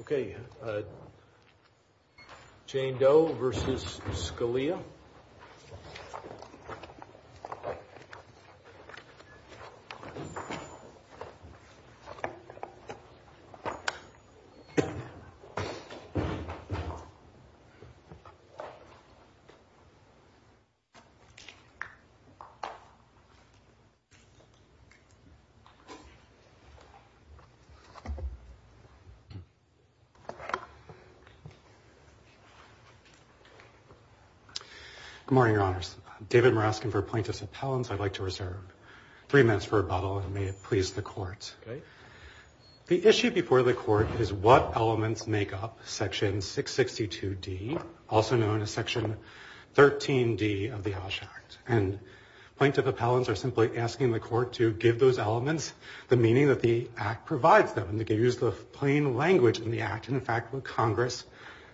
Okay, Jane Doe v. Scalia Good morning, Your Honors. David Muraskin for Plaintiffs' Appellants. I'd like to reserve three minutes for rebuttal, and may it please the Court. The issue before the Court is what elements make up Section 662d, also known as Section 13d of the OSH Act. And plaintiff appellants are simply asking the Court to give those the plain language in the Act, and in fact what Congress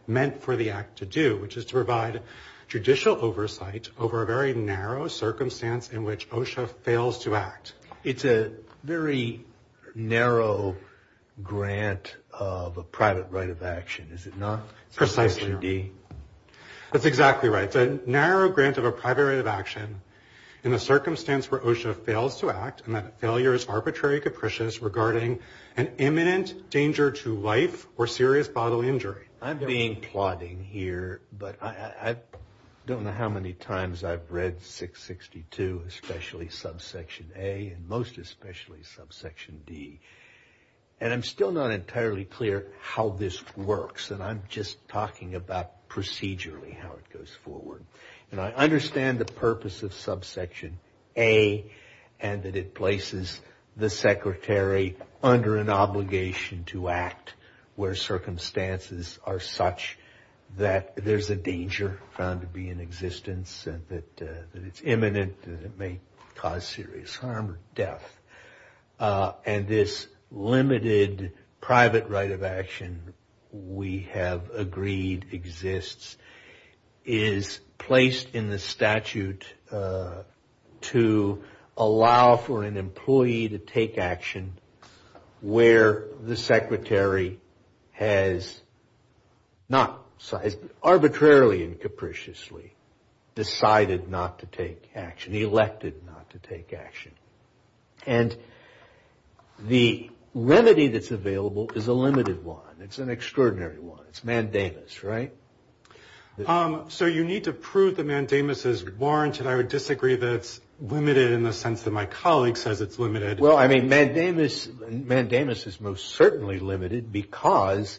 meant for the Act to do, which is to provide judicial oversight over a very narrow circumstance in which OSHA fails to act. It's a very narrow grant of a private right of action, is it not? Precisely. Section 3d. That's exactly right. It's a narrow grant of a private right of action in a circumstance where OSHA fails to act, and that failure is arbitrary capricious regarding an imminent danger to life or serious bodily injury. I'm being plodding here, but I don't know how many times I've read 662, especially Subsection A, and most especially Subsection D. And I'm still not entirely clear how this works, and I'm just talking about procedurally how it goes forward. And I understand the purpose of Subsection A, and that it places the Secretary under an obligation to act where circumstances are such that there's a danger found to be in existence, and that it's imminent, and it may cause serious harm or death. And this limited private right of action, we have agreed exists, is placed in the statute to allow for an employee to take action where the Secretary has not arbitrarily and capriciously decided not to take action, elected not to take action. And the remedy that's available is a limited one. It's an extraordinary one. It's mandamus, right? So you need to prove that mandamus is warranted. I would disagree that it's limited in the sense that my colleague says it's limited. Well, I mean, mandamus is most certainly limited because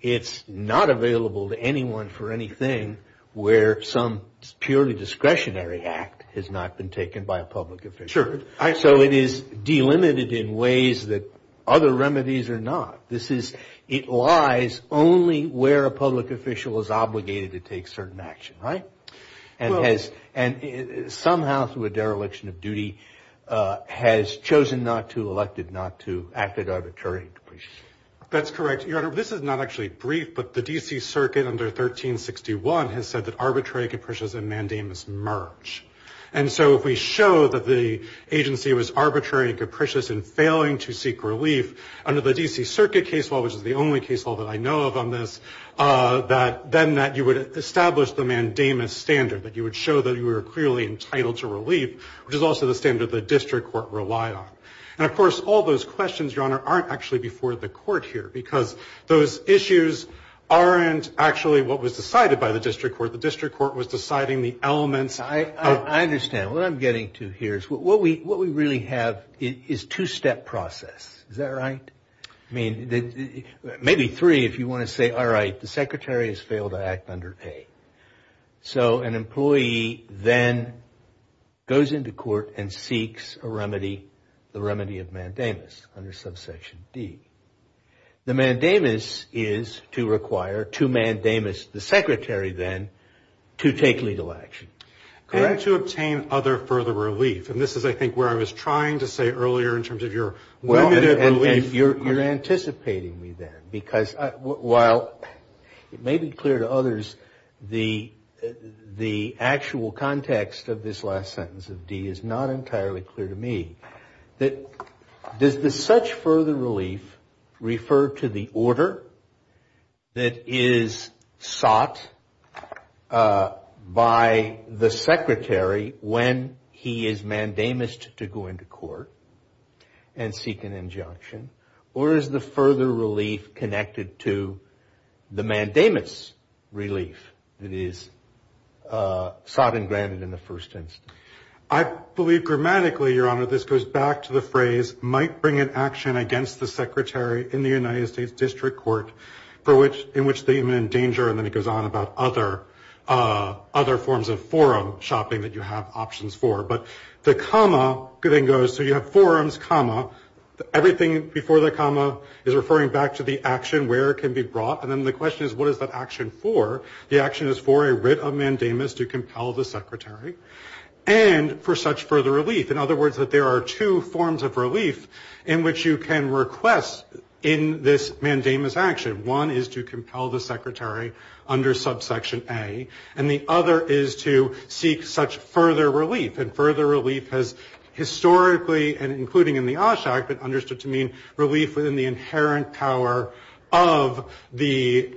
it's not available to anyone for anything where some purely discretionary act has not been taken by a public official. Sure. So it is delimited in ways that other remedies are not. This is, it lies only where a public official is obligated to take certain action, right? And has, somehow through a dereliction of duty, has chosen not to, elected not to, acted arbitrarily and capriciously. That's correct, Your Honor. This is not actually brief, but the D.C. Circuit under 1361 has said that arbitrary, capricious, and mandamus merge. And so if we show that the agency was arbitrary and capricious in failing to seek relief under the D.C. Circuit case law, which is the only case law that I know of on this, that, then that you would establish the mandamus standard, that you would show that you were clearly entitled to relief, which is also the standard the district court relied on. And of course, all those questions, Your Honor, aren't actually before the court here, because those issues aren't actually what was decided by the district court. The district court was deciding the elements of- I understand. What I'm getting to here is what we really have is two-step process. Is that right? I mean, maybe three if you want to say, all right, the secretary has failed to act under A. So an employee then goes into court and seeks a remedy, the remedy of mandamus under subsection D. The mandamus is to require, to mandamus the secretary then, to take legal action, correct? And to obtain other further relief. And this is, I think, where I was trying to say earlier in terms of your remit of relief- You're anticipating me then, because while it may be clear to others, the actual context of this last sentence of D is not entirely clear to me. Does the such further relief refer to the order that is sought by the secretary when he is mandamus to go into court and seek an injunction? Or is the further relief connected to the mandamus relief that is sought and granted in the first instance? I believe grammatically, Your Honor, this goes back to the phrase, might bring an action against the secretary in the United States District Court in which they may endanger- and then it goes on about other forms of forum shopping that you have options for. But the forums, comma, everything before the comma is referring back to the action where it can be brought. And then the question is, what is that action for? The action is for a writ of mandamus to compel the secretary and for such further relief. In other words, that there are two forms of relief in which you can request in this mandamus action. One is to compel the secretary under subsection A. And the other is to seek such further relief. And further relief has historically, and including in the OSHA Act, been understood to mean relief within the inherent power of the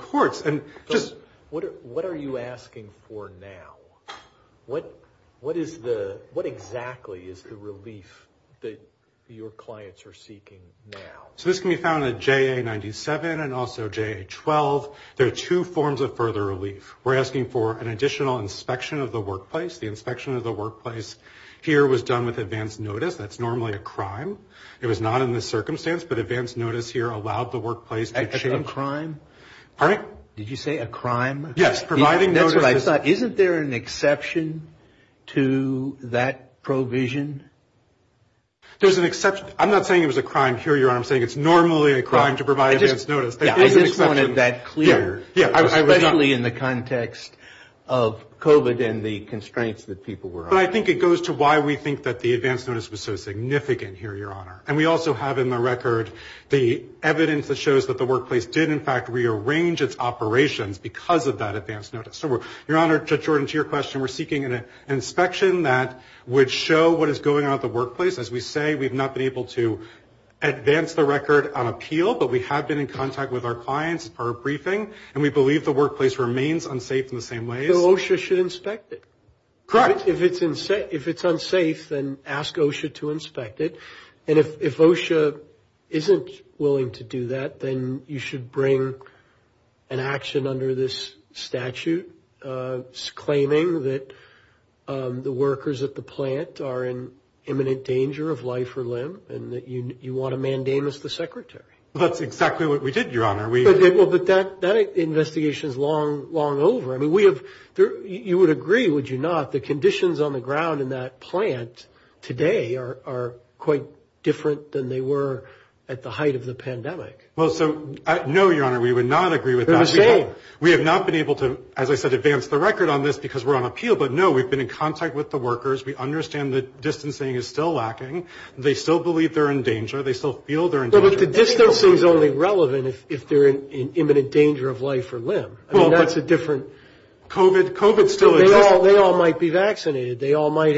courts. But what are you asking for now? What exactly is the relief that your clients are seeking now? So this can be found at JA97 and also JA12. There are two forms of further relief. We're here was done with advanced notice. That's normally a crime. It was not in this circumstance, but advanced notice here allowed the workplace to change- A crime? Pardon? Did you say a crime? Yes, providing notice is- That's what I thought. Isn't there an exception to that provision? There's an exception. I'm not saying it was a crime. Here, Your Honor, I'm saying it's normally a crime to provide advanced notice. I just wanted that clear, especially in the context of COVID and the constraints that people were under. But I think it goes to why we think that the advanced notice was so significant here, Your Honor. And we also have in the record the evidence that shows that the workplace did in fact rearrange its operations because of that advanced notice. So, Your Honor, Judge Jordan, to your question, we're seeking an inspection that would show what is going on at the workplace. As we say, we've not been able to advance the record on appeal, but we have been in contact with our clients for a briefing, and we believe the workplace remains unsafe in the same ways. So OSHA should inspect it? Correct. If it's unsafe, then ask OSHA to inspect it. And if OSHA isn't willing to do that, then you should bring an action under this statute claiming that the workers at the plant are in imminent danger of life or limb, and that you want to mandamus the secretary. That's exactly what we did, Your Honor. But that investigation is long over. I mean, you would agree, would you not, the conditions on the ground in that plant today are quite different than they were at the height of the pandemic? Well, no, Your Honor, we would not agree with that. We have not been able to, as I said, advance the record on this because we're on appeal. But no, we've been in contact with the workers. We understand that distancing is still lacking. They still believe they're in danger. They still feel they're in danger. But the distancing is only relevant if they're in imminent danger of life or limb. I mean, that's a different... COVID still exists. They all might be vaccinated. They all might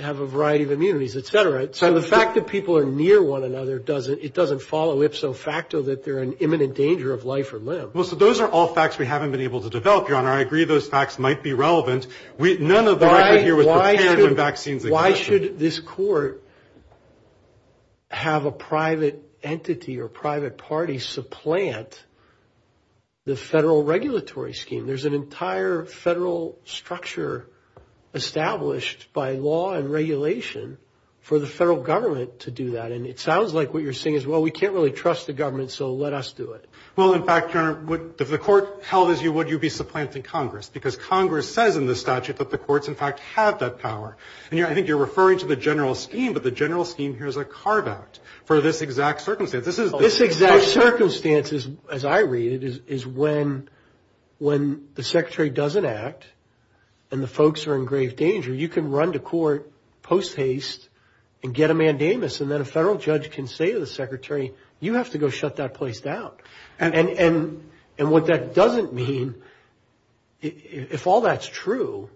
have a variety of immunities, et cetera. So the fact that people are near one another, it doesn't follow ipso facto that they're in imminent danger of life or limb. Well, so those are all facts we haven't been able to develop, Your Honor. I agree those facts might be relevant. None of the record here was prepared when vaccines... Why should this court have a private entity or private party supplant the federal regulatory scheme? There's an entire federal structure established by law and regulation for the federal government to do that. And it sounds like what you're saying is, well, we can't really trust the government, so let us do it. Well, in fact, Your Honor, if the court held as you would, you'd be supplanting Congress because Congress says in the statute that the courts in fact have that power. And I think you're referring to the general scheme, but the general scheme here is a carve out for this exact circumstance. This is... This exact circumstance, as I read it, is when the secretary doesn't act and the folks are in grave danger, you can run to court post haste and get a mandamus. And then a federal judge can say to the secretary, you have to go shut that place down. And what that doesn't mean, if all that's true,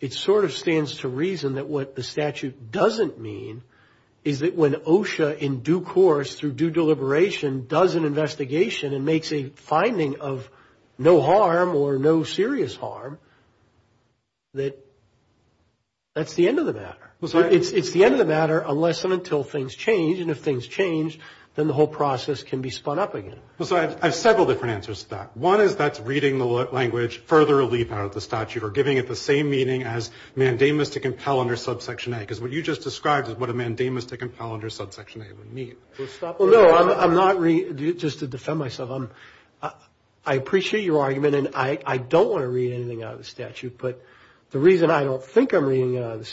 it sort of stands to reason that what the statute doesn't mean is that when OSHA in due course through due deliberation does an investigation and makes a finding of no harm or no serious harm, that that's the end of the matter. It's the end of the matter unless and until things change. And if things change, then the whole process can be spun up again. Well, so I have several different answers to that. One is that's reading the language further relief out of the statute or giving it the same meaning as mandamus to compel under subsection A. Because what you just described is what a mandamus to compel under subsection A would mean. Well, no, I'm not... Just to defend myself, I appreciate your argument and I don't want to read anything out of the statute. But the reason I don't think I'm reading out of the to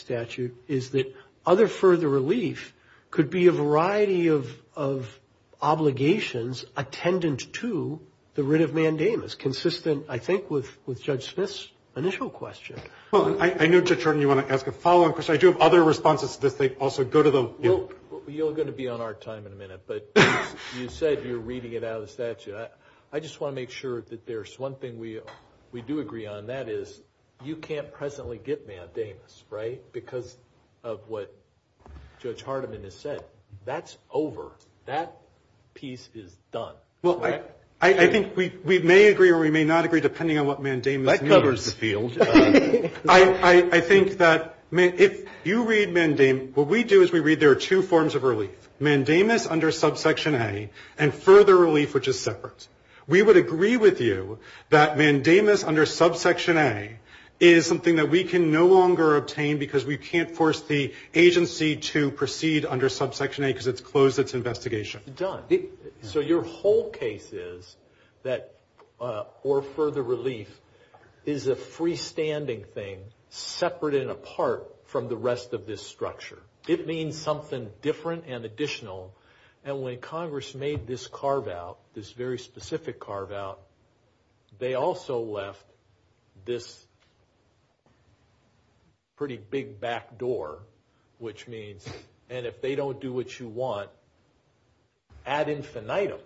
the writ of mandamus, consistent, I think, with Judge Smith's initial question. Well, I know, Judge Hardiman, you want to ask a follow-on question. I do have other responses to this. They also go to the... Well, you're going to be on our time in a minute. But you said you're reading it out of the statute. I just want to make sure that there's one thing we do agree on, and that is you can't presently get mandamus, right, because of what Judge Hardiman has said. That's over. That piece is done. Well, I think we may agree or we may not agree, depending on what mandamus means. That covers the field. I think that if you read mandamus, what we do is we read there are two forms of relief, mandamus under subsection A and further relief, which is separate. We would agree with you that mandamus under subsection A is something that we can no longer obtain because we can't force the agency to proceed under subsection A because it's closed its investigation. Done. So your whole case is that or further relief is a freestanding thing separate and apart from the rest of this structure. It means something different and additional. And when Congress made this carve-out, this very specific carve-out, they also left this pretty big back door, which means, and if they don't do what you want, ad infinitum,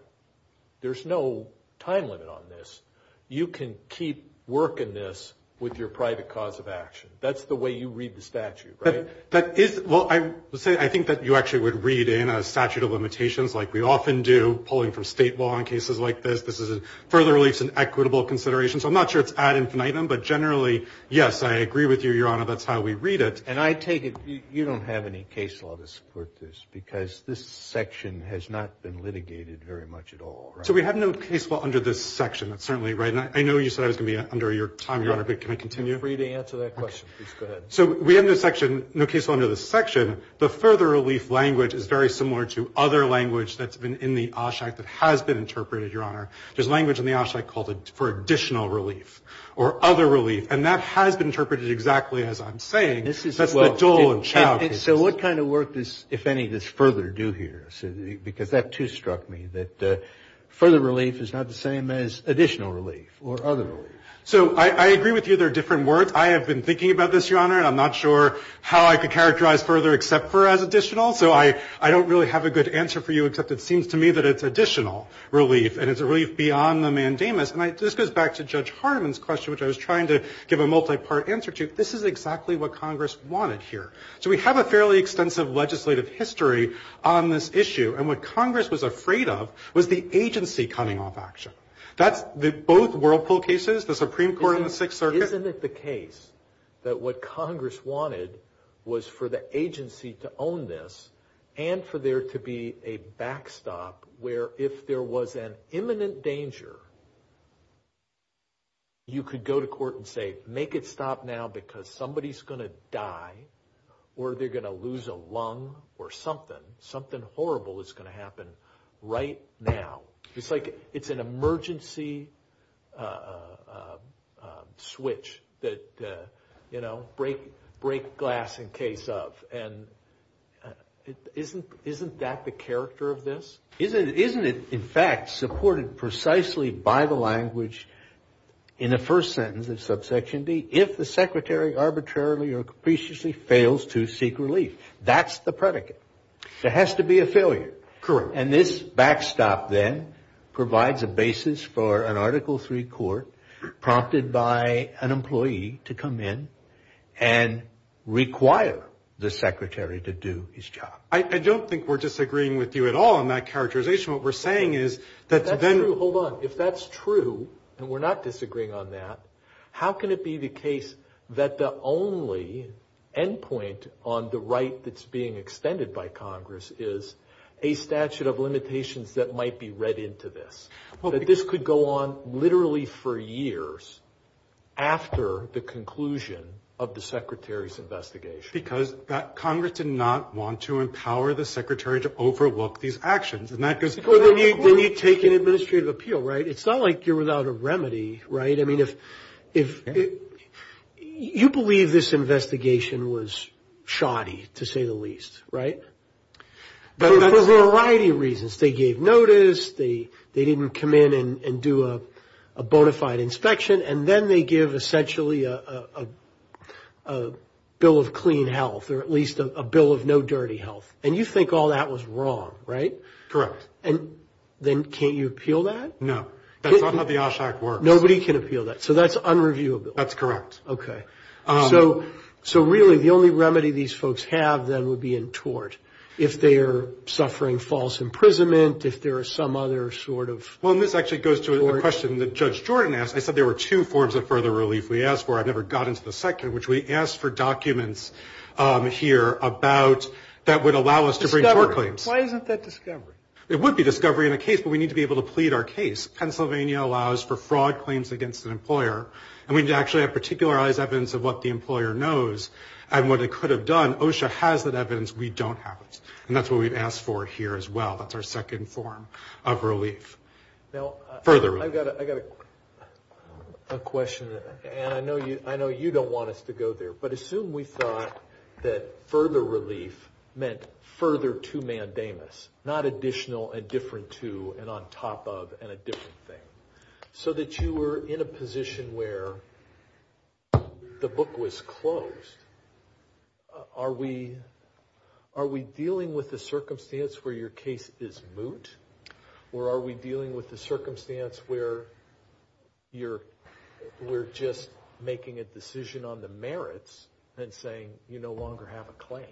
there's no time limit on this. You can keep working this with your private cause of action. That's the way you read the statute, right? That is, well, I would say I think that you actually would read in a statute of limitations like we often do pulling from state law in cases like this. This is further relief is an equitable consideration. So I'm not sure it's ad infinitum, but generally, yes, I agree with you, Your Honor. That's how we read it. And I take it you don't have any case law to support this because this section has not been litigated very much at all, right? So we have no case law under this section. That's certainly right. And I know you said I was going to be under your time, Your Honor, but can I continue? You're free to answer that question. Please go ahead. So we have no case law under this section. The further relief language is very similar to other language that's been in the OSHAC that has been interpreted, Your Honor. There's language in the OSHAC called for additional relief or other relief, and that has been interpreted exactly as I'm saying. That's the dole and chow. And so what kind of work does, if any, does further do here? Because that, too, struck me that further relief is not the same as additional relief or other relief. So I agree with you there are different words. I have been thinking about this, Your Honor, and I'm not sure how I could characterize further except for as additional. So I don't really have a good answer for you, except it seems to me that it's additional relief, and it's a relief beyond the mandamus. And this goes back to Judge Hardiman's question, which I was trying to give a multi-part answer to. This is exactly what Congress wanted here. So we have a fairly extensive legislative history on this issue, and what Congress was afraid of was the agency coming off action. That's the both whirlpool cases, the Supreme Court and the Sixth Circuit. Isn't it the case that what Congress wanted was for the agency to own this and for there to be a backstop where if there was an imminent danger, you could go to court and say, make it stop now because somebody's going to die or they're going to lose a lung or something. Something horrible is going to happen right now. It's like it's an emergency switch that, you know, break glass in case of. And isn't that the character of this? Isn't it in fact supported precisely by the language in the first sentence of subsection D if the secretary arbitrarily or capriciously fails to seek relief? That's the predicate. There has to be a failure. Correct. And this backstop then provides a basis for an Article III court prompted by an employee to come in and require the secretary to do his job. I don't think we're disagreeing with you at all on that characterization. What we're saying is that. That's true. Hold on. If that's true and we're not disagreeing on that, how can it be the case that the only end point on the right that's being extended by Congress is a statute of limitations that might be read into this? That this could go on literally for years after the conclusion of the secretary's investigation. Because that Congress did not want to empower the secretary to overlook these actions. And that goes when you take an administrative appeal. Right. It's not like you're without a remedy. Right. I mean, if if you believe this investigation was shoddy, to say the least. Right. But for a variety of reasons, they gave notice. They they didn't come in and do a bona fide inspection. And then they give essentially a bill of clean health or at least a bill of no dirty health. And you think all that was wrong. Right. Correct. And then can't you appeal that? No. That's not how the OSHAC works. Nobody can appeal that. So that's unreviewable. That's correct. Okay. So so really the only remedy these folks have then would be in tort. If they are suffering false imprisonment, if there are some other sort of. Well, this actually goes to the question that Judge Jordan asked. I said there were two forms of further relief we asked for. I've never gotten to the second, which we asked for documents here about that would allow us to bring our claims. Why isn't that discovery? It would be discovery in a case, but we need to be able to plead our case. Pennsylvania allows for fraud claims against an employer. And we need to actually have particularized evidence of what the employer knows and what it could have done. OSHA has that evidence. We don't have it. And that's what we've asked for here as well. That's our second form of relief. Now, further, I've got I got a question. And I know you I know you don't want us to go there, but assume we thought that further relief meant further to mandamus, not additional and different to and on top of and a different thing so that you were in a position where the book was closed. Are we are we dealing with the circumstance where your case is moot or are we dealing with the circumstance where you're we're just making a decision on the merits and saying you no longer have a claim?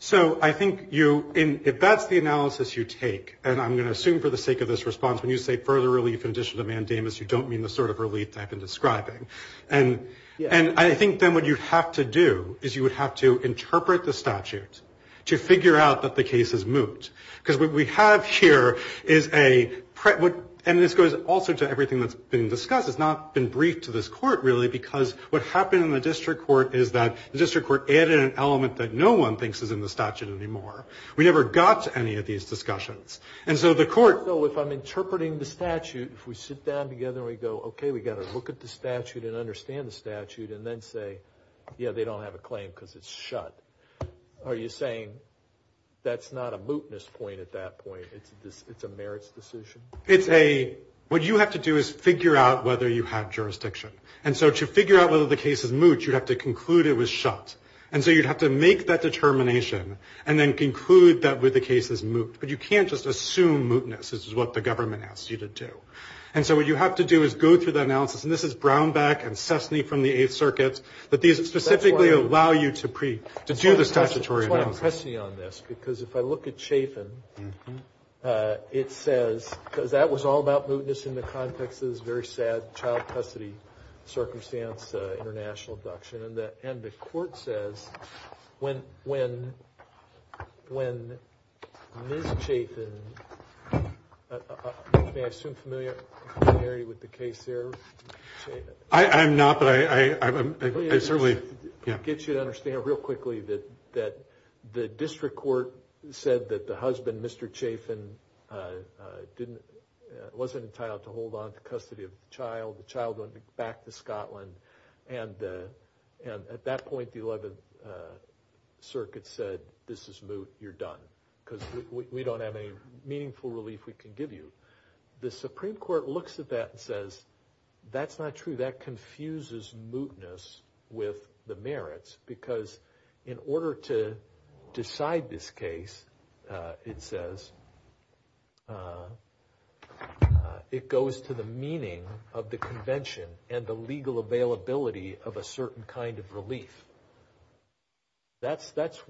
So I think you if that's the analysis you take and I'm going to assume for the sake of this response, when you say further relief in addition to mandamus, you don't mean the sort I've been describing. And I think then what you have to do is you would have to interpret the statute to figure out that the case is moot because what we have here is a and this goes also to everything that's been discussed. It's not been briefed to this court, really, because what happened in the district court is that the district court added an element that no one thinks is in the statute anymore. We never got to any of these discussions. And so the court. So if I'm interpreting the statute, if we sit down together, we go, OK, we got to look at the statute and understand the statute and then say, yeah, they don't have a claim because it's shut. Are you saying that's not a mootness point at that point? It's a merits decision. It's a what you have to do is figure out whether you have jurisdiction. And so to figure out whether the case is moot, you'd have to conclude it was shut. And so you'd have to make that determination and then conclude that with the case is moot. But you can't just assume mootness is what the government asks you to do. And so what you have to do is go through the analysis. And this is Brownback and Cessna from the Eighth Circuit that these specifically allow you to preach to do the statutory on this, because if I look at Chafin, it says because that was all about mootness in the context is very sad child custody circumstance, international abduction. And the court says when Ms. Chafin, may I assume familiarity with the case there? I'm not, but I certainly get you to understand real quickly that the district court said that the husband, Mr. Chafin, wasn't entitled to hold on to custody of the child. The child went back to Scotland. And at that point, the 11th Circuit said, this is moot. You're done because we don't have any meaningful relief we can give you. The Supreme Court looks at that and says, that's not true. That confuses mootness with the merits because in order to decide this case, it says it goes to the meaning of the convention and the legal availability of a certain kind of relief. That's, there's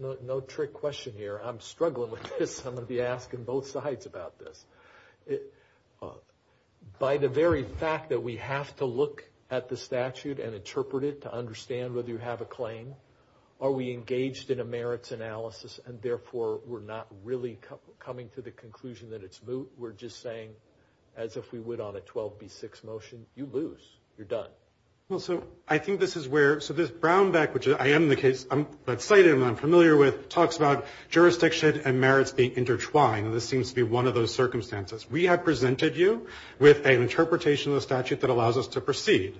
no trick question here. I'm struggling with this. I'm going to be asking both sides about this. By the very fact that we have to look at the statute and interpret it to understand whether you have a claim, are we engaged in a merits analysis and therefore not really coming to the conclusion that it's moot? We're just saying, as if we would on a 12B6 motion, you lose. You're done. Well, so I think this is where, so this Brownback, which I am the case, I'm excited and I'm familiar with, talks about jurisdiction and merits being intertwined. And this seems to be one of those circumstances. We have presented you with an interpretation of the statute that allows us to proceed.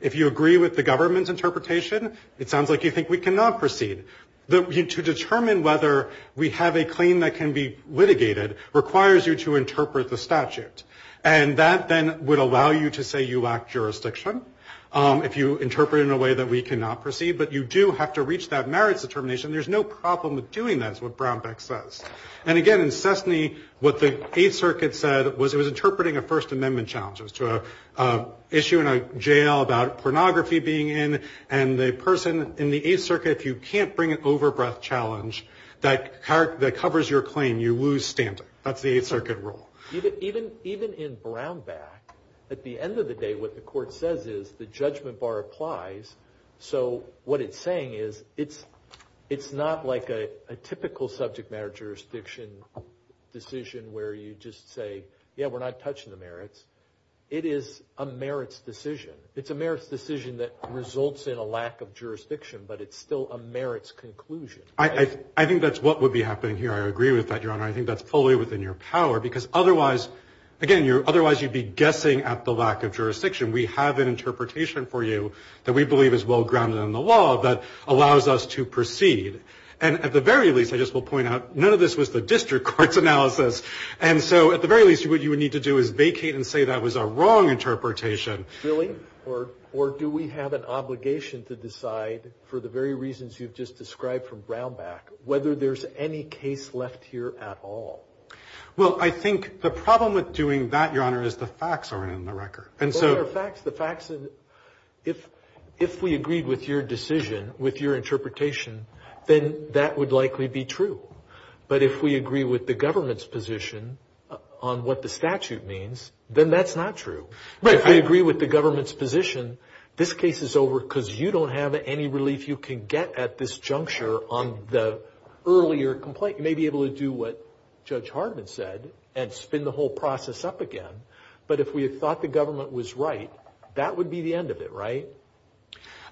If you agree with the government's interpretation, it sounds like you think we cannot proceed. To determine whether we have a claim that can be litigated requires you to interpret the statute. And that then would allow you to say you lack jurisdiction if you interpret in a way that we cannot proceed. But you do have to reach that merits determination. There's no problem with doing that, is what Brownback says. And again, in Cessna, what the Eighth Circuit said was it was interpreting a First Amendment challenge. It was to an issue in a jail about pornography being in. And the person in the Eighth Circuit, if you can't bring an overbreath challenge that covers your claim, you lose standing. That's the Eighth Circuit rule. Even in Brownback, at the end of the day, what the court says is the judgment bar applies. So what it's saying is it's not like a typical subject matter jurisdiction decision where you just say, yeah, we're not touching the merits. It is a merits decision. It's a merits decision that results in a lack of jurisdiction, but it's still a merits conclusion. I think that's what would be happening here. I agree with that, Your Honor. I think that's fully within your power. Because otherwise, again, otherwise you'd be guessing at the lack of jurisdiction. We have an interpretation for you that we believe is well-grounded in the law that allows us to proceed. And at the very least, I just will point out, none of this was the district court's analysis. And so at the very least, what you would need to do is vacate and say that was a wrong interpretation. Really? Or do we have an obligation to decide, for the very reasons you've just described from Brownback, whether there's any case left here at all? Well, I think the problem with doing that, Your Honor, is the facts are in the record. But what are the facts? The facts are... If we agreed with your decision, with your interpretation, then that would likely be true. But if we agree with the government's position on what the statute means, then that's not true. But if we agree with the government's position, this case is over because you don't have any relief you can get at this juncture on the earlier complaint. You may be able to do what Judge Hardman said and spin the whole process up again. But if we had thought the government was right, that would be the end of it, right?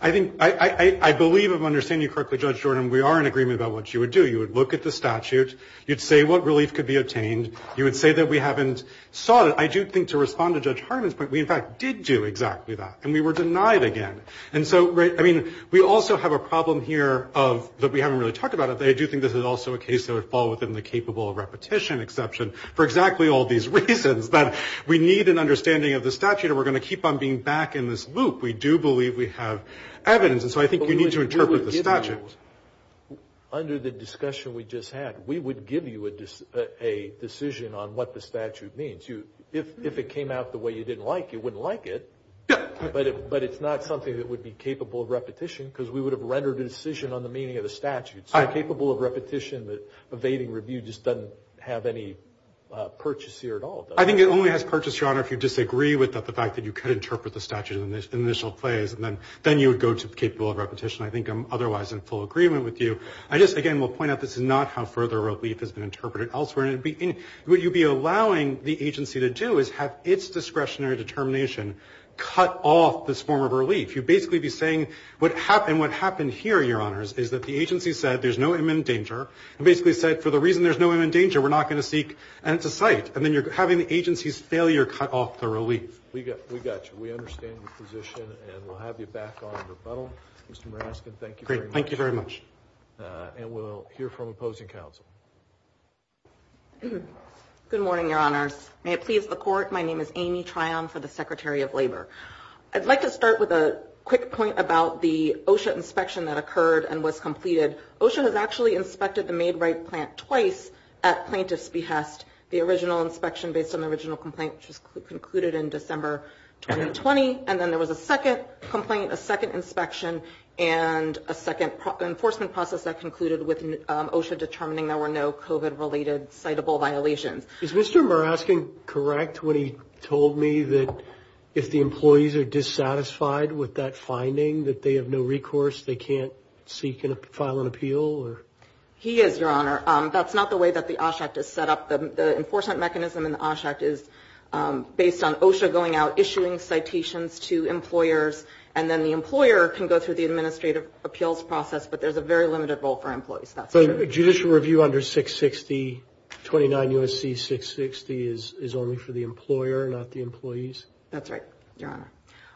I think... I believe I'm understanding you correctly, Judge Jordan. We are in agreement about what you would do. You would look at the statute. You'd say what relief could be obtained. You would say that we haven't sought it. I do think to respond to Judge Hardman's point, we in fact did do exactly that, and we were denied again. And so, I mean, we also have a problem here of... that we haven't really talked about it. But I do think this is also a case that would fall within the capable of repetition exception for exactly all these reasons. But we need an understanding of the statute, and we're going to keep on being back in this loop. We do believe we have evidence. And so I think you need to interpret the statute. Under the discussion we just had, we would give you a decision on what the statute means. If it came out the way you didn't like, you wouldn't like it. But it's not something that would be capable of repetition, because we would have rendered a decision on the meaning of the statute. So capable of repetition, evading review just doesn't have any purchase here at all. I think it only has purchase, Your Honor, if you disagree with the fact that you could interpret the statute in the initial place, and then you would go to capable of repetition. I think I'm otherwise in full agreement with you. I just, again, will point out this is not how further relief has been interpreted elsewhere. What you'd be allowing the agency to do is have its discretionary determination cut off this form of relief. You'd basically be saying, and what happened here, Your Honors, is that the agency said there's no imminent danger, and basically said, for the reason there's no imminent danger, we're not going to seek at the site. And then you're having the agency's failure cut off the relief. We got you. We understand your position, and we'll have you back on in rebuttal. Mr. Maraskin, thank you very much. Thank you very much. And we'll hear from opposing counsel. Good morning, Your Honors. May it please the Court, my name is Amy Trion for the Secretary of Labor. I'd like to start with a quick point about the OSHA inspection that occurred and was completed. OSHA has actually inspected the Maid Rite plant twice at plaintiff's behest. The original inspection based on the original complaint, which was concluded in December 2020, and then there was a second complaint, a second inspection, and a second enforcement process that concluded with OSHA determining there were no COVID-related citable violations. Is Mr. Maraskin correct when he told me that if the employees are dissatisfied with that finding, that they have no recourse, they can't seek and file an appeal? He is, Your Honor. That's not the way that the OSHA Act is set up. The enforcement mechanism in the OSHA Act is based on OSHA going out, issuing citations to employers, and then the employer can go through the administrative appeals process, but there's a very limited role for employees. That's true. So judicial review under 660, 29 U.S.C. 660, is only for the employer, not the employees? That's right, Your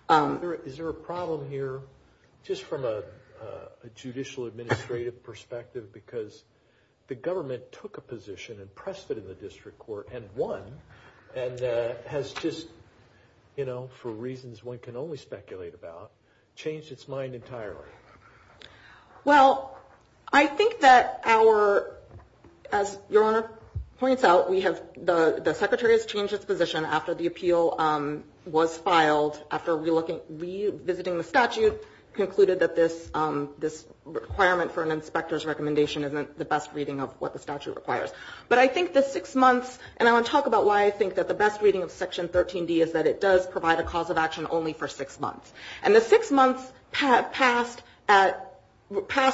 Honor. Is there a problem here, just from a judicial administrative perspective, because the government took a position and pressed it in the district court and won, and has just, you know, for reasons one can only speculate about, changed its mind entirely? Well, I think that our, as Your Honor points out, we have, the Secretary has changed his position after the appeal was filed, after revisiting the statute, concluded that this requirement for an inspector's recommendation isn't the best reading of what the statute requires. But I think the six months, and I want to talk about why I think that the best reading of Section 13D is that it does provide a cause of action only for six months. And the six months passed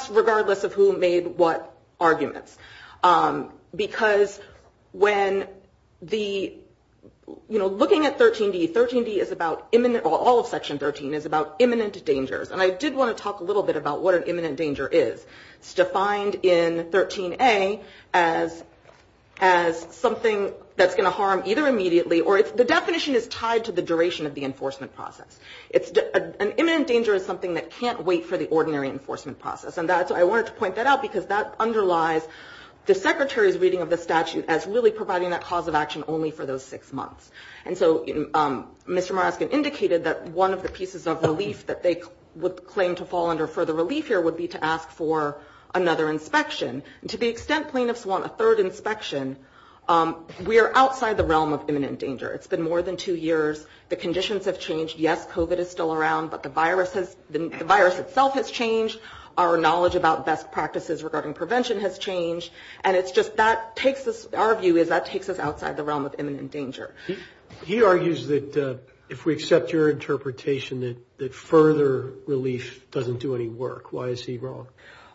regardless of who made what arguments, because when the, you know, looking at 13D, 13D is about, all of Section 13 is about imminent dangers, and I did want to talk a little bit about what an imminent danger is. It's defined in 13A as something that's going to harm either immediately, or it's, the definition is tied to the duration of the enforcement process. It's, an imminent danger is something that can't wait for the ordinary enforcement process, and that's, I wanted to point that out because that underlies the Secretary's reading of the statute as really providing that cause of action only for those six months. And so Mr. Maraskan indicated that one of the pieces of relief that they would claim to fall under further relief here would be to ask for another inspection. To the extent plaintiffs want a third inspection, we are outside the realm of imminent danger. It's been more than two years. The conditions have changed. Yes, COVID is still around, but the virus has, the virus itself has changed. Our knowledge about best practices regarding prevention has changed. And it's just, that takes us, our view is that takes us outside the realm of imminent danger. He argues that, if we accept your interpretation, that further relief doesn't do any work. Why is he wrong?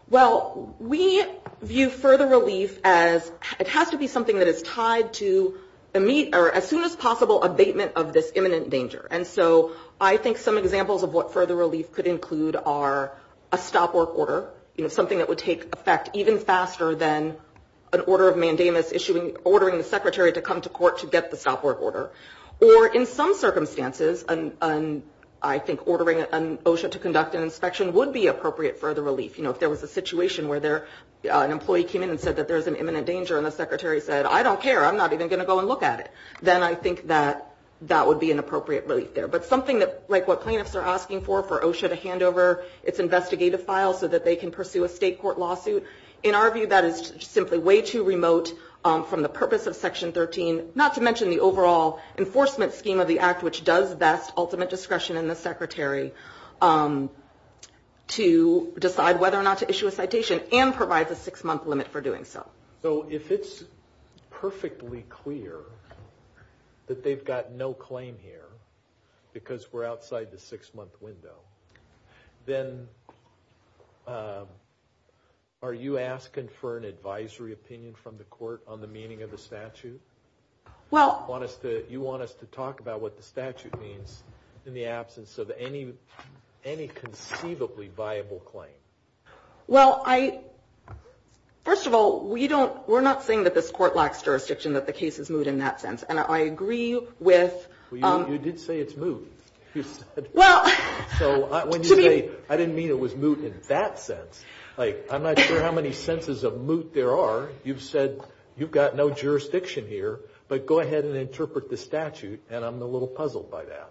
Well, we view further relief as, it has to be something that is tied to, as soon as possible, abatement of this imminent danger. And so I think some examples of what further relief could include are a stop work order, something that would take effect even faster than an order of mandamus issuing, ordering the secretary to come to court to get the stop work order. Or in some circumstances, I think ordering an OSHA to conduct an inspection would be appropriate for the relief. You know, if there was a situation where an employee came in and said that there's an imminent danger and the secretary said, I don't care, I'm not even going to go and look at it, then I think that that would be an appropriate relief there. But something that, like what plaintiffs are asking for, for OSHA to hand over its lawsuit. In our view, that is simply way too remote from the purpose of Section 13, not to mention the overall enforcement scheme of the act, which does vest ultimate discretion in the secretary to decide whether or not to issue a citation and provides a six-month limit for doing so. So if it's perfectly clear that they've got no claim here because we're outside the six-month window, then are you asking for an advisory opinion from the court on the meaning of the statute? Well... You want us to talk about what the statute means in the absence of any conceivably viable claim. Well, first of all, we're not saying that this court lacks jurisdiction, that the case is moot in that sense. And I agree with... You did say it's moot. Well... So when you say, I didn't mean it was moot in that sense. Like, I'm not sure how many senses of moot there are. You've said you've got no jurisdiction here, but go ahead and interpret the statute, and I'm a little puzzled by that.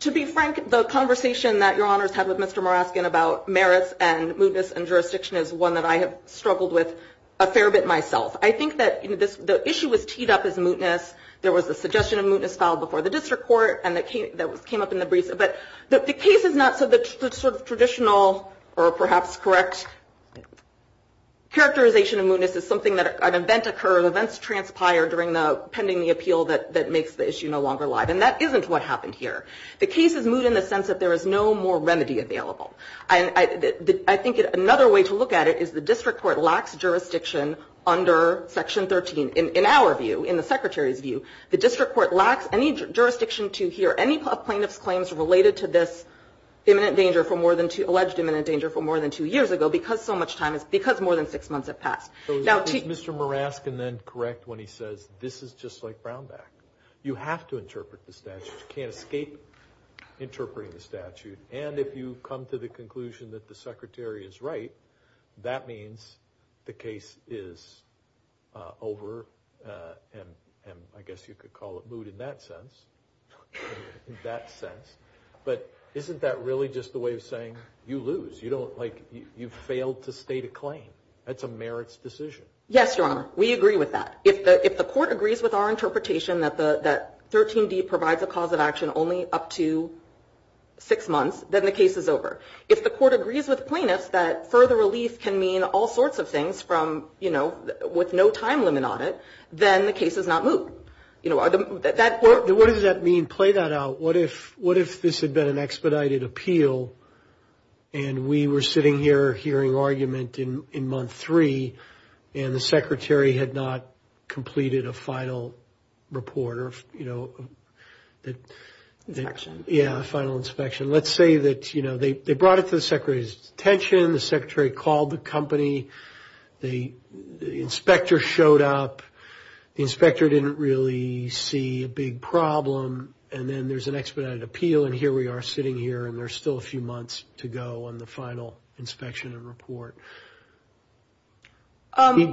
To be frank, the conversation that Your Honors had with Mr. Moraskian about merits and mootness and jurisdiction is one that I have struggled with a fair bit myself. I think that the issue was teed up as mootness. There was a suggestion of mootness filed before the district court, and that came up in the briefs. But the case is not... So the sort of traditional, or perhaps correct, characterization of mootness is something that an event occurred, events transpired during the... pending the appeal that makes the issue no longer live. And that isn't what happened here. The case is moot in the sense that there is no more remedy available. I think another way to look at it is the district court lacks jurisdiction under Section 13. In our view, in the Secretary's view, the district court lacks any jurisdiction to hear any plaintiff's claims related to this imminent danger for more than two... alleged imminent danger for more than two years ago because so much time has... because more than six months have passed. So is Mr. Moraskian then correct when he says this is just like Brownback? You have to interpret the statute. You can't escape interpreting the statute. And if you come to the over, and I guess you could call it moot in that sense, in that sense, but isn't that really just the way of saying you lose? You don't... Like you've failed to state a claim. That's a merits decision. Yes, Your Honor. We agree with that. If the court agrees with our interpretation that 13D provides a cause of action only up to six months, then the case is over. If the court agrees with plaintiffs that further relief can mean all sorts of things from, with no time limit on it, then the case is not moot. What does that mean? Play that out. What if this had been an expedited appeal, and we were sitting here hearing argument in month three, and the Secretary had not completed a final report or... Inspection. Yeah, final inspection. Let's say that they brought it to the Secretary's attention, the Secretary called the company, the inspector showed up, the inspector didn't really see a big problem, and then there's an expedited appeal, and here we are sitting here, and there's still a few months to go on the final inspection and report.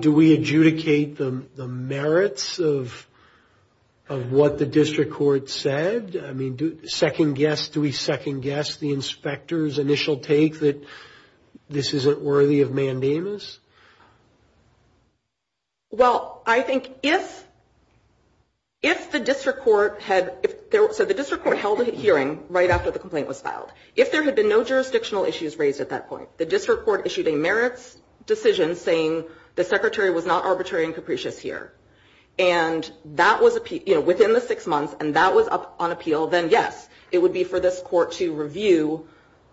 Do we adjudicate the merits of what the district court said? I mean, do we second guess the this isn't worthy of mandamus? Well, I think if the district court held a hearing right after the complaint was filed, if there had been no jurisdictional issues raised at that point, the district court issued a merits decision saying the Secretary was not arbitrary and capricious here, and that was within the six months, and that was up on appeal, then yes, it would be for this court to review,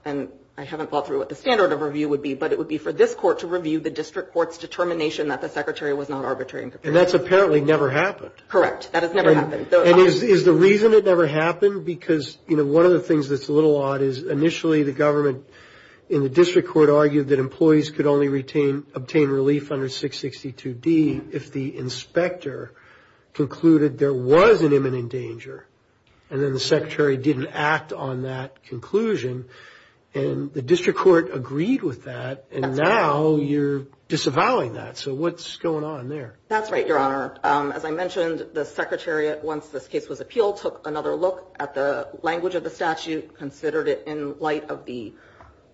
and I haven't thought through what the standard of review would be, but it would be for this court to review the district court's determination that the Secretary was not arbitrary and capricious. And that's apparently never happened. Correct. That has never happened. And is the reason it never happened? Because one of the things that's a little odd is initially the government in the district court argued that employees could only obtain relief under 662D if the inspector concluded there was an imminent danger, and then the Secretary didn't act on that conclusion, and the district court agreed with that, and now you're disavowing that. So what's going on there? That's right, Your Honor. As I mentioned, the Secretary, once this case was appealed, took another look at the language of the statute, considered it in light of the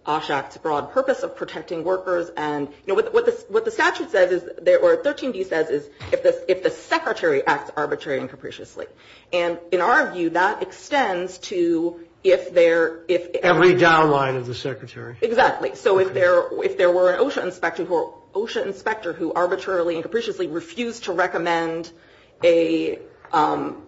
OSHAC's broad purpose of protecting workers, and what the statute says, or 13D says, is if the Secretary acts arbitrary and capriciously. And in our view, that extends to if there... Every downline of the Secretary. Exactly. So if there were an OSHA inspector who arbitrarily and capriciously refused to recommend a... So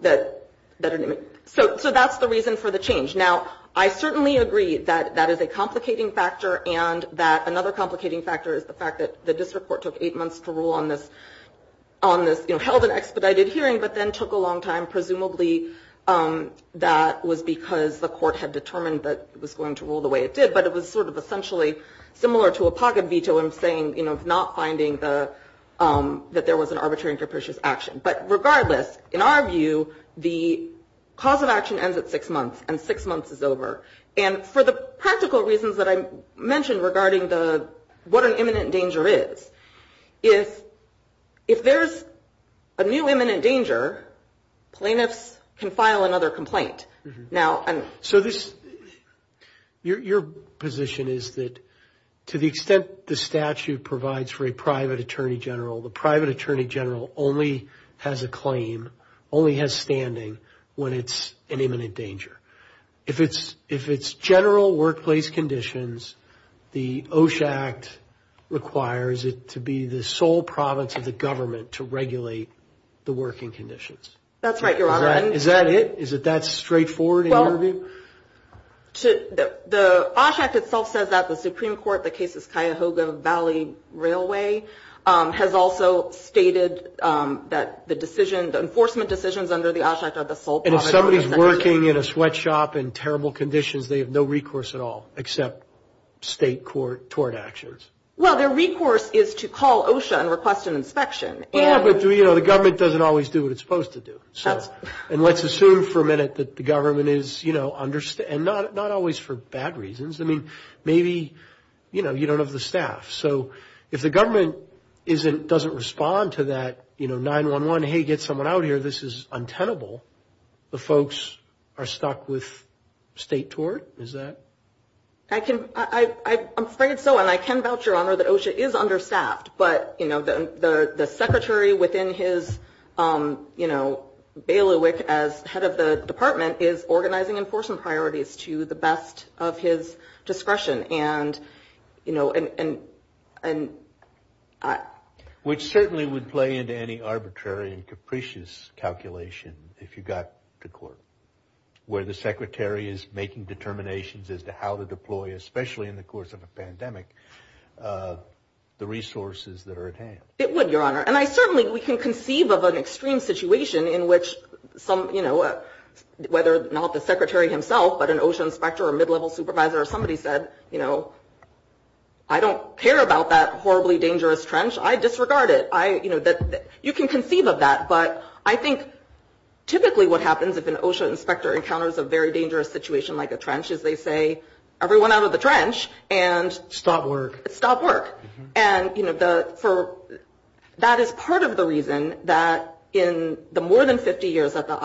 that's the reason for the change. Now, I certainly agree that that is a complicating factor, and that another complicating factor is the fact that the district court took eight months to decide. Presumably, that was because the court had determined that it was going to rule the way it did, but it was sort of essentially similar to a pocket veto in saying, you know, not finding that there was an arbitrary and capricious action. But regardless, in our view, the cause of action ends at six months, and six months is over. And for the practical reasons that I mentioned regarding what an imminent danger is, if there's a new imminent danger, plaintiffs can file another complaint. So your position is that to the extent the statute provides for a private attorney general, the private attorney general only has a claim, only has standing when it's an imminent danger. If it's general workplace conditions, the OSHA Act requires it to be the sole province of the government to regulate the working conditions. That's right, Your Honor. Is that it? Is that straightforward in your view? The OSHA Act itself says that the Supreme Court, the case is Cuyahoga Valley Railway, has also stated that the decision, the enforcement decisions under the OSHA Act are the sole... And if somebody is working in a sweatshop in terrible conditions, they have no recourse at all except state tort actions. Well, their recourse is to call OSHA and request an inspection. Yeah, but, you know, the government doesn't always do what it's supposed to do. So, and let's assume for a minute that the government is, you know, understand, not always for bad reasons. I mean, maybe, you know, you don't have the staff. So if the government doesn't respond to that, you know, 911, hey, get someone out here, this is untenable. The folks are stuck with state tort, is that? I can, I'm afraid so. And I can vouch, Your Honor, that OSHA is understaffed. But, you know, the secretary within his, you know, bailiwick as head of the department is organizing enforcement priorities to the best of his discretion. And, you know, and... Which certainly would play into any arbitrary and capricious calculation if you got to court, where the secretary is making determinations as to how to deploy, especially in the course of a pandemic, the resources that are at hand. It would, Your Honor. And I certainly, we can conceive of an extreme situation in which some, you know, whether or not the secretary himself, but an OSHA inspector or mid-level supervisor, or somebody said, you know, I don't care about that horribly dangerous trench. I disregard it. I, you know, you can conceive of that. But I think typically what happens if an OSHA inspector encounters a very dangerous situation like a trench is they say, everyone out of the trench and... Stop work. Stop work. And, you know, that is part of the reason that in the more than 50 years that the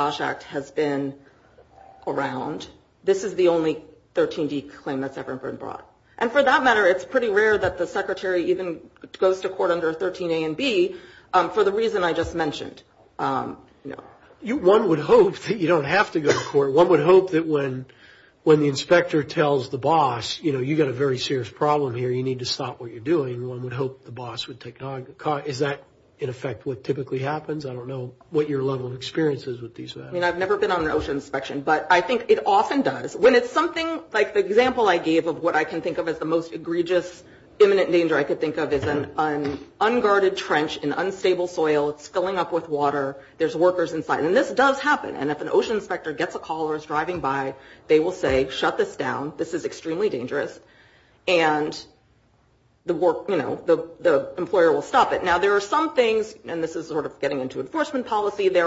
that's ever been brought. And for that matter, it's pretty rare that the secretary even goes to court under 13 A and B for the reason I just mentioned. One would hope that you don't have to go to court. One would hope that when when the inspector tells the boss, you know, you've got a very serious problem here. You need to stop what you're doing. One would hope the boss would take... Is that in effect what typically happens? I don't know what your level of experience is with these matters. I mean, I've never been on an OSHA inspection, but I think it often does. When it's something like the example I gave of what I can think of as the most egregious imminent danger I could think of is an unguarded trench in unstable soil. It's filling up with water. There's workers inside. And this does happen. And if an OSHA inspector gets a call or is driving by, they will say, shut this down. This is extremely dangerous. And the work, you know, the employer will stop it. Now, there are some things and this is sort of getting into enforcement policy. There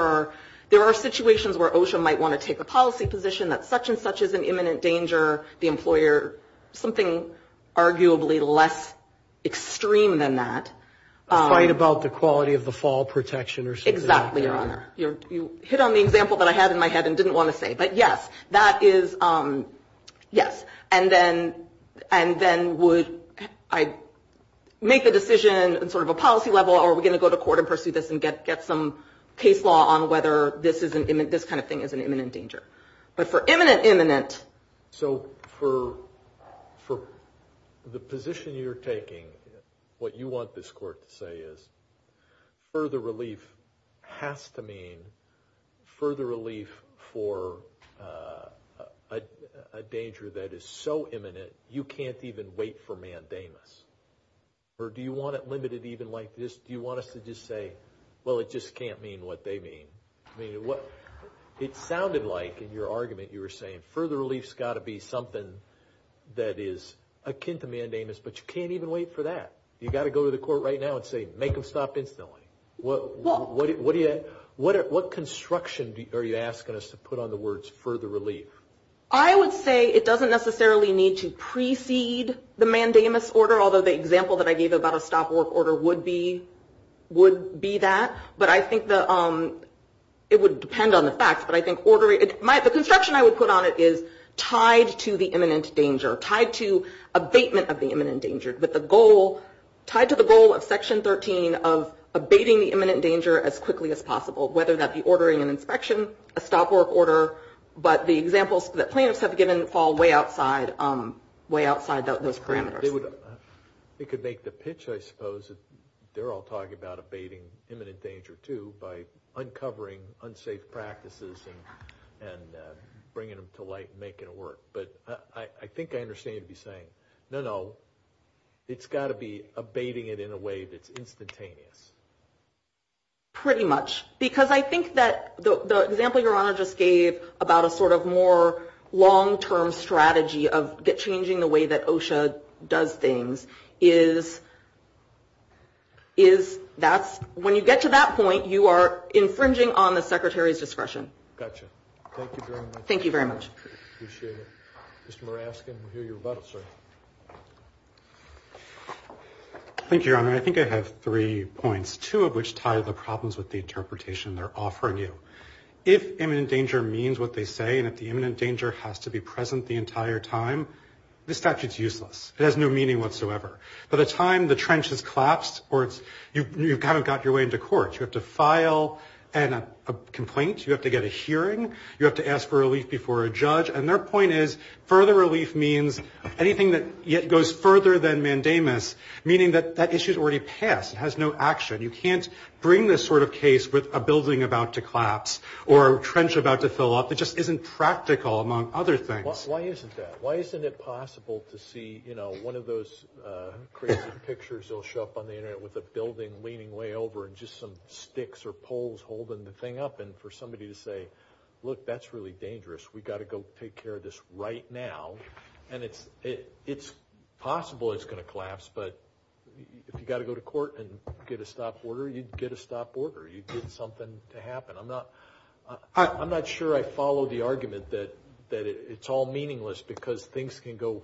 are situations where OSHA might want to take a policy position that such and such is an imminent danger. The employer, something arguably less extreme than that. It's fine about the quality of the fall protection or something like that. Exactly, Your Honor. You hit on the example that I had in my head and didn't want to say, but yes, that is yes. And then and then would I make the decision and sort of a policy level, or are we going to go to court and pursue this and get some case law on whether this kind of thing is an imminent danger? But for imminent imminent. So for the position you're taking, what you want this court to say is, further relief has to mean further relief for a danger that is so imminent, you can't even wait for mandamus. Or do you want it limited even like this? Do you want us to just say, well, it just can't mean what they mean? I mean, it sounded like in your argument, you were saying further relief's got to be something that is akin to mandamus, but you can't even wait for that. You got to go to the court right now and say, make them stop instantly. What construction are you asking us to put on the words further relief? I would say it doesn't necessarily need to precede the mandamus order, although the example that I gave about a stop work order would be that. But I think it would depend on the facts. But I think the construction I would put on it is tied to the imminent danger, tied to abatement of the imminent danger, but tied to the goal of Section 13 of abating the imminent danger as quickly as possible, whether that be ordering an inspection, a stop work order, but the examples that plaintiffs have given fall way outside those parameters. They could make the pitch, I suppose, that they're all talking about abating imminent danger, too, by uncovering unsafe practices and bringing them to light and making it work. But I think I understand you'd be saying, no, no, it's got to be abating it in a way that's instantaneous. Pretty much. Because I think that the example Your Honor just gave about a sort of long-term strategy of changing the way that OSHA does things is, when you get to that point, you are infringing on the Secretary's discretion. Gotcha. Thank you very much. Thank you very much. Appreciate it. Mr. Muraskin, we hear your rebuttal, sir. Thank you, Your Honor. I think I have three points, two of which tie the problems with interpretation they're offering you. If imminent danger means what they say and if the imminent danger has to be present the entire time, the statute's useless. It has no meaning whatsoever. By the time the trench has collapsed, you've kind of got your way into court. You have to file a complaint. You have to get a hearing. You have to ask for relief before a judge. And their point is, further relief means anything that yet goes further than mandamus, meaning that that issue's passed. It has no action. You can't bring this sort of case with a building about to collapse or a trench about to fill up. It just isn't practical, among other things. Why isn't that? Why isn't it possible to see one of those crazy pictures that will show up on the internet with a building leaning way over and just some sticks or poles holding the thing up and for somebody to say, look, that's really dangerous. We've got to go take care of this right now. And it's possible it's going to collapse, but if you've got to go to court and get a stop order, you'd get a stop order. You'd get something to happen. I'm not sure I follow the argument that it's all meaningless because things can go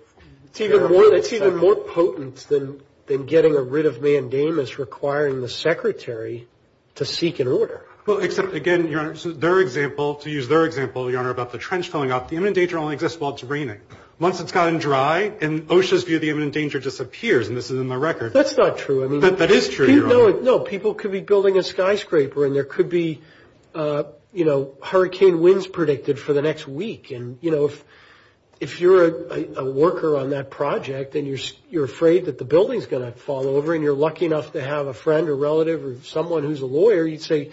very well. It's even more potent than getting rid of mandamus requiring the secretary to seek an order. Well, except again, Your Honor, their example, to use their example, Your Honor, about the trench filling up, the imminent danger only exists while it's raining. Once it's gotten dry, in OSHA's view, the imminent danger disappears, and this is in the record. That's not true. I mean, that is true, Your Honor. No, people could be building a skyscraper and there could be, you know, hurricane winds predicted for the next week. And, you know, if you're a worker on that project and you're afraid that the building's going to fall over and you're lucky enough to have a friend or relative or someone who's a lawyer, you'd say,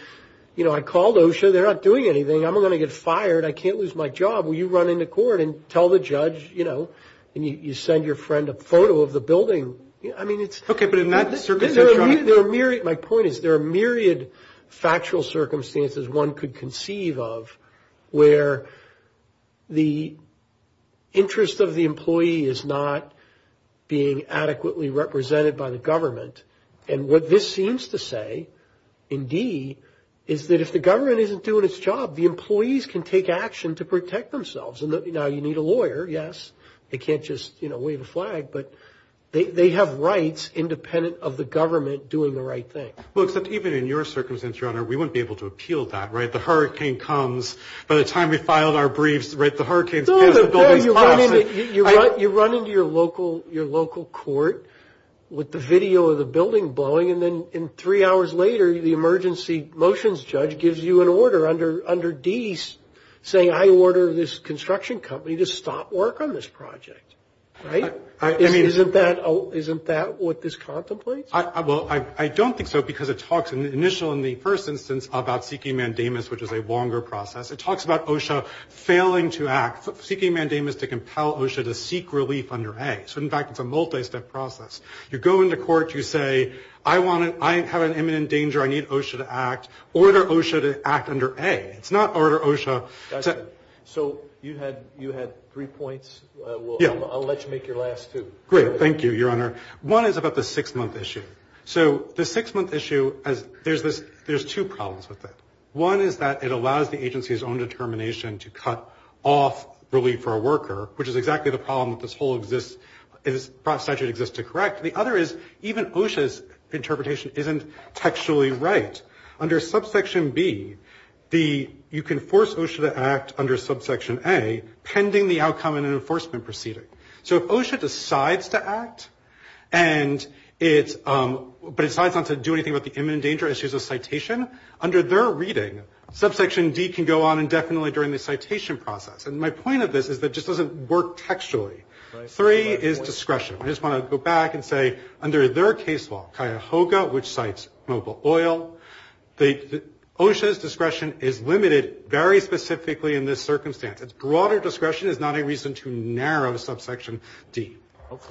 you know, I called OSHA. They're not doing anything. I'm going to get fired. I can't lose my job. Well, you run into court and tell the judge, you know, and you send your friend a photo of the building. I mean, it's... Okay, but in that circumstance... There are myriad... My point is there are myriad factual circumstances one could conceive of where the interest of the employee is not being adequately represented by the government. And what this seems to say, indeed, is that if the government isn't doing its job, the employees can take action to protect themselves. And now you need a lawyer. Yes, they can't just, you know, wave a flag, but they have rights independent of the government doing the right thing. Well, except even in your circumstance, Your Honor, we wouldn't be able to appeal that, right? The hurricane comes by the time we filed our briefs, right? The hurricane... No, no, no. You run into your local court with the video of the building blowing. And then three hours later, the emergency motions judge gives you an order under D's saying, I order this construction company to stop work on this project, right? Isn't that what this contemplates? Well, I don't think so because it talks in the initial, in the first instance, about seeking mandamus, which is a longer process. It talks about OSHA failing to act, seeking mandamus to compel OSHA to seek relief under A. So, in fact, it's a multi-step process. You go into court, you say, I have an imminent danger, I need OSHA to act, order OSHA to act under A. It's not order OSHA... So you had three points. I'll let you make your last two. Great. Thank you, Your Honor. One is about the six-month issue. So the six-month issue, there's two problems with it. One is that it allows the agency's own determination to cut off relief for a worker, which is exactly the problem that statute exists to correct. The other is even OSHA's interpretation isn't textually right. Under subsection B, you can force OSHA to act under subsection A, pending the outcome in an enforcement proceeding. So if OSHA decides to act, but decides not to do anything about the imminent danger issues of citation, under their reading, subsection D can go on indefinitely during the citation process. My point of this is that it just doesn't work textually. Three is discretion. I just want to go back and say, under their case law, Cuyahoga, which cites mobile oil, OSHA's discretion is limited very specifically in this circumstance. Its broader discretion is not a reason to narrow subsection D.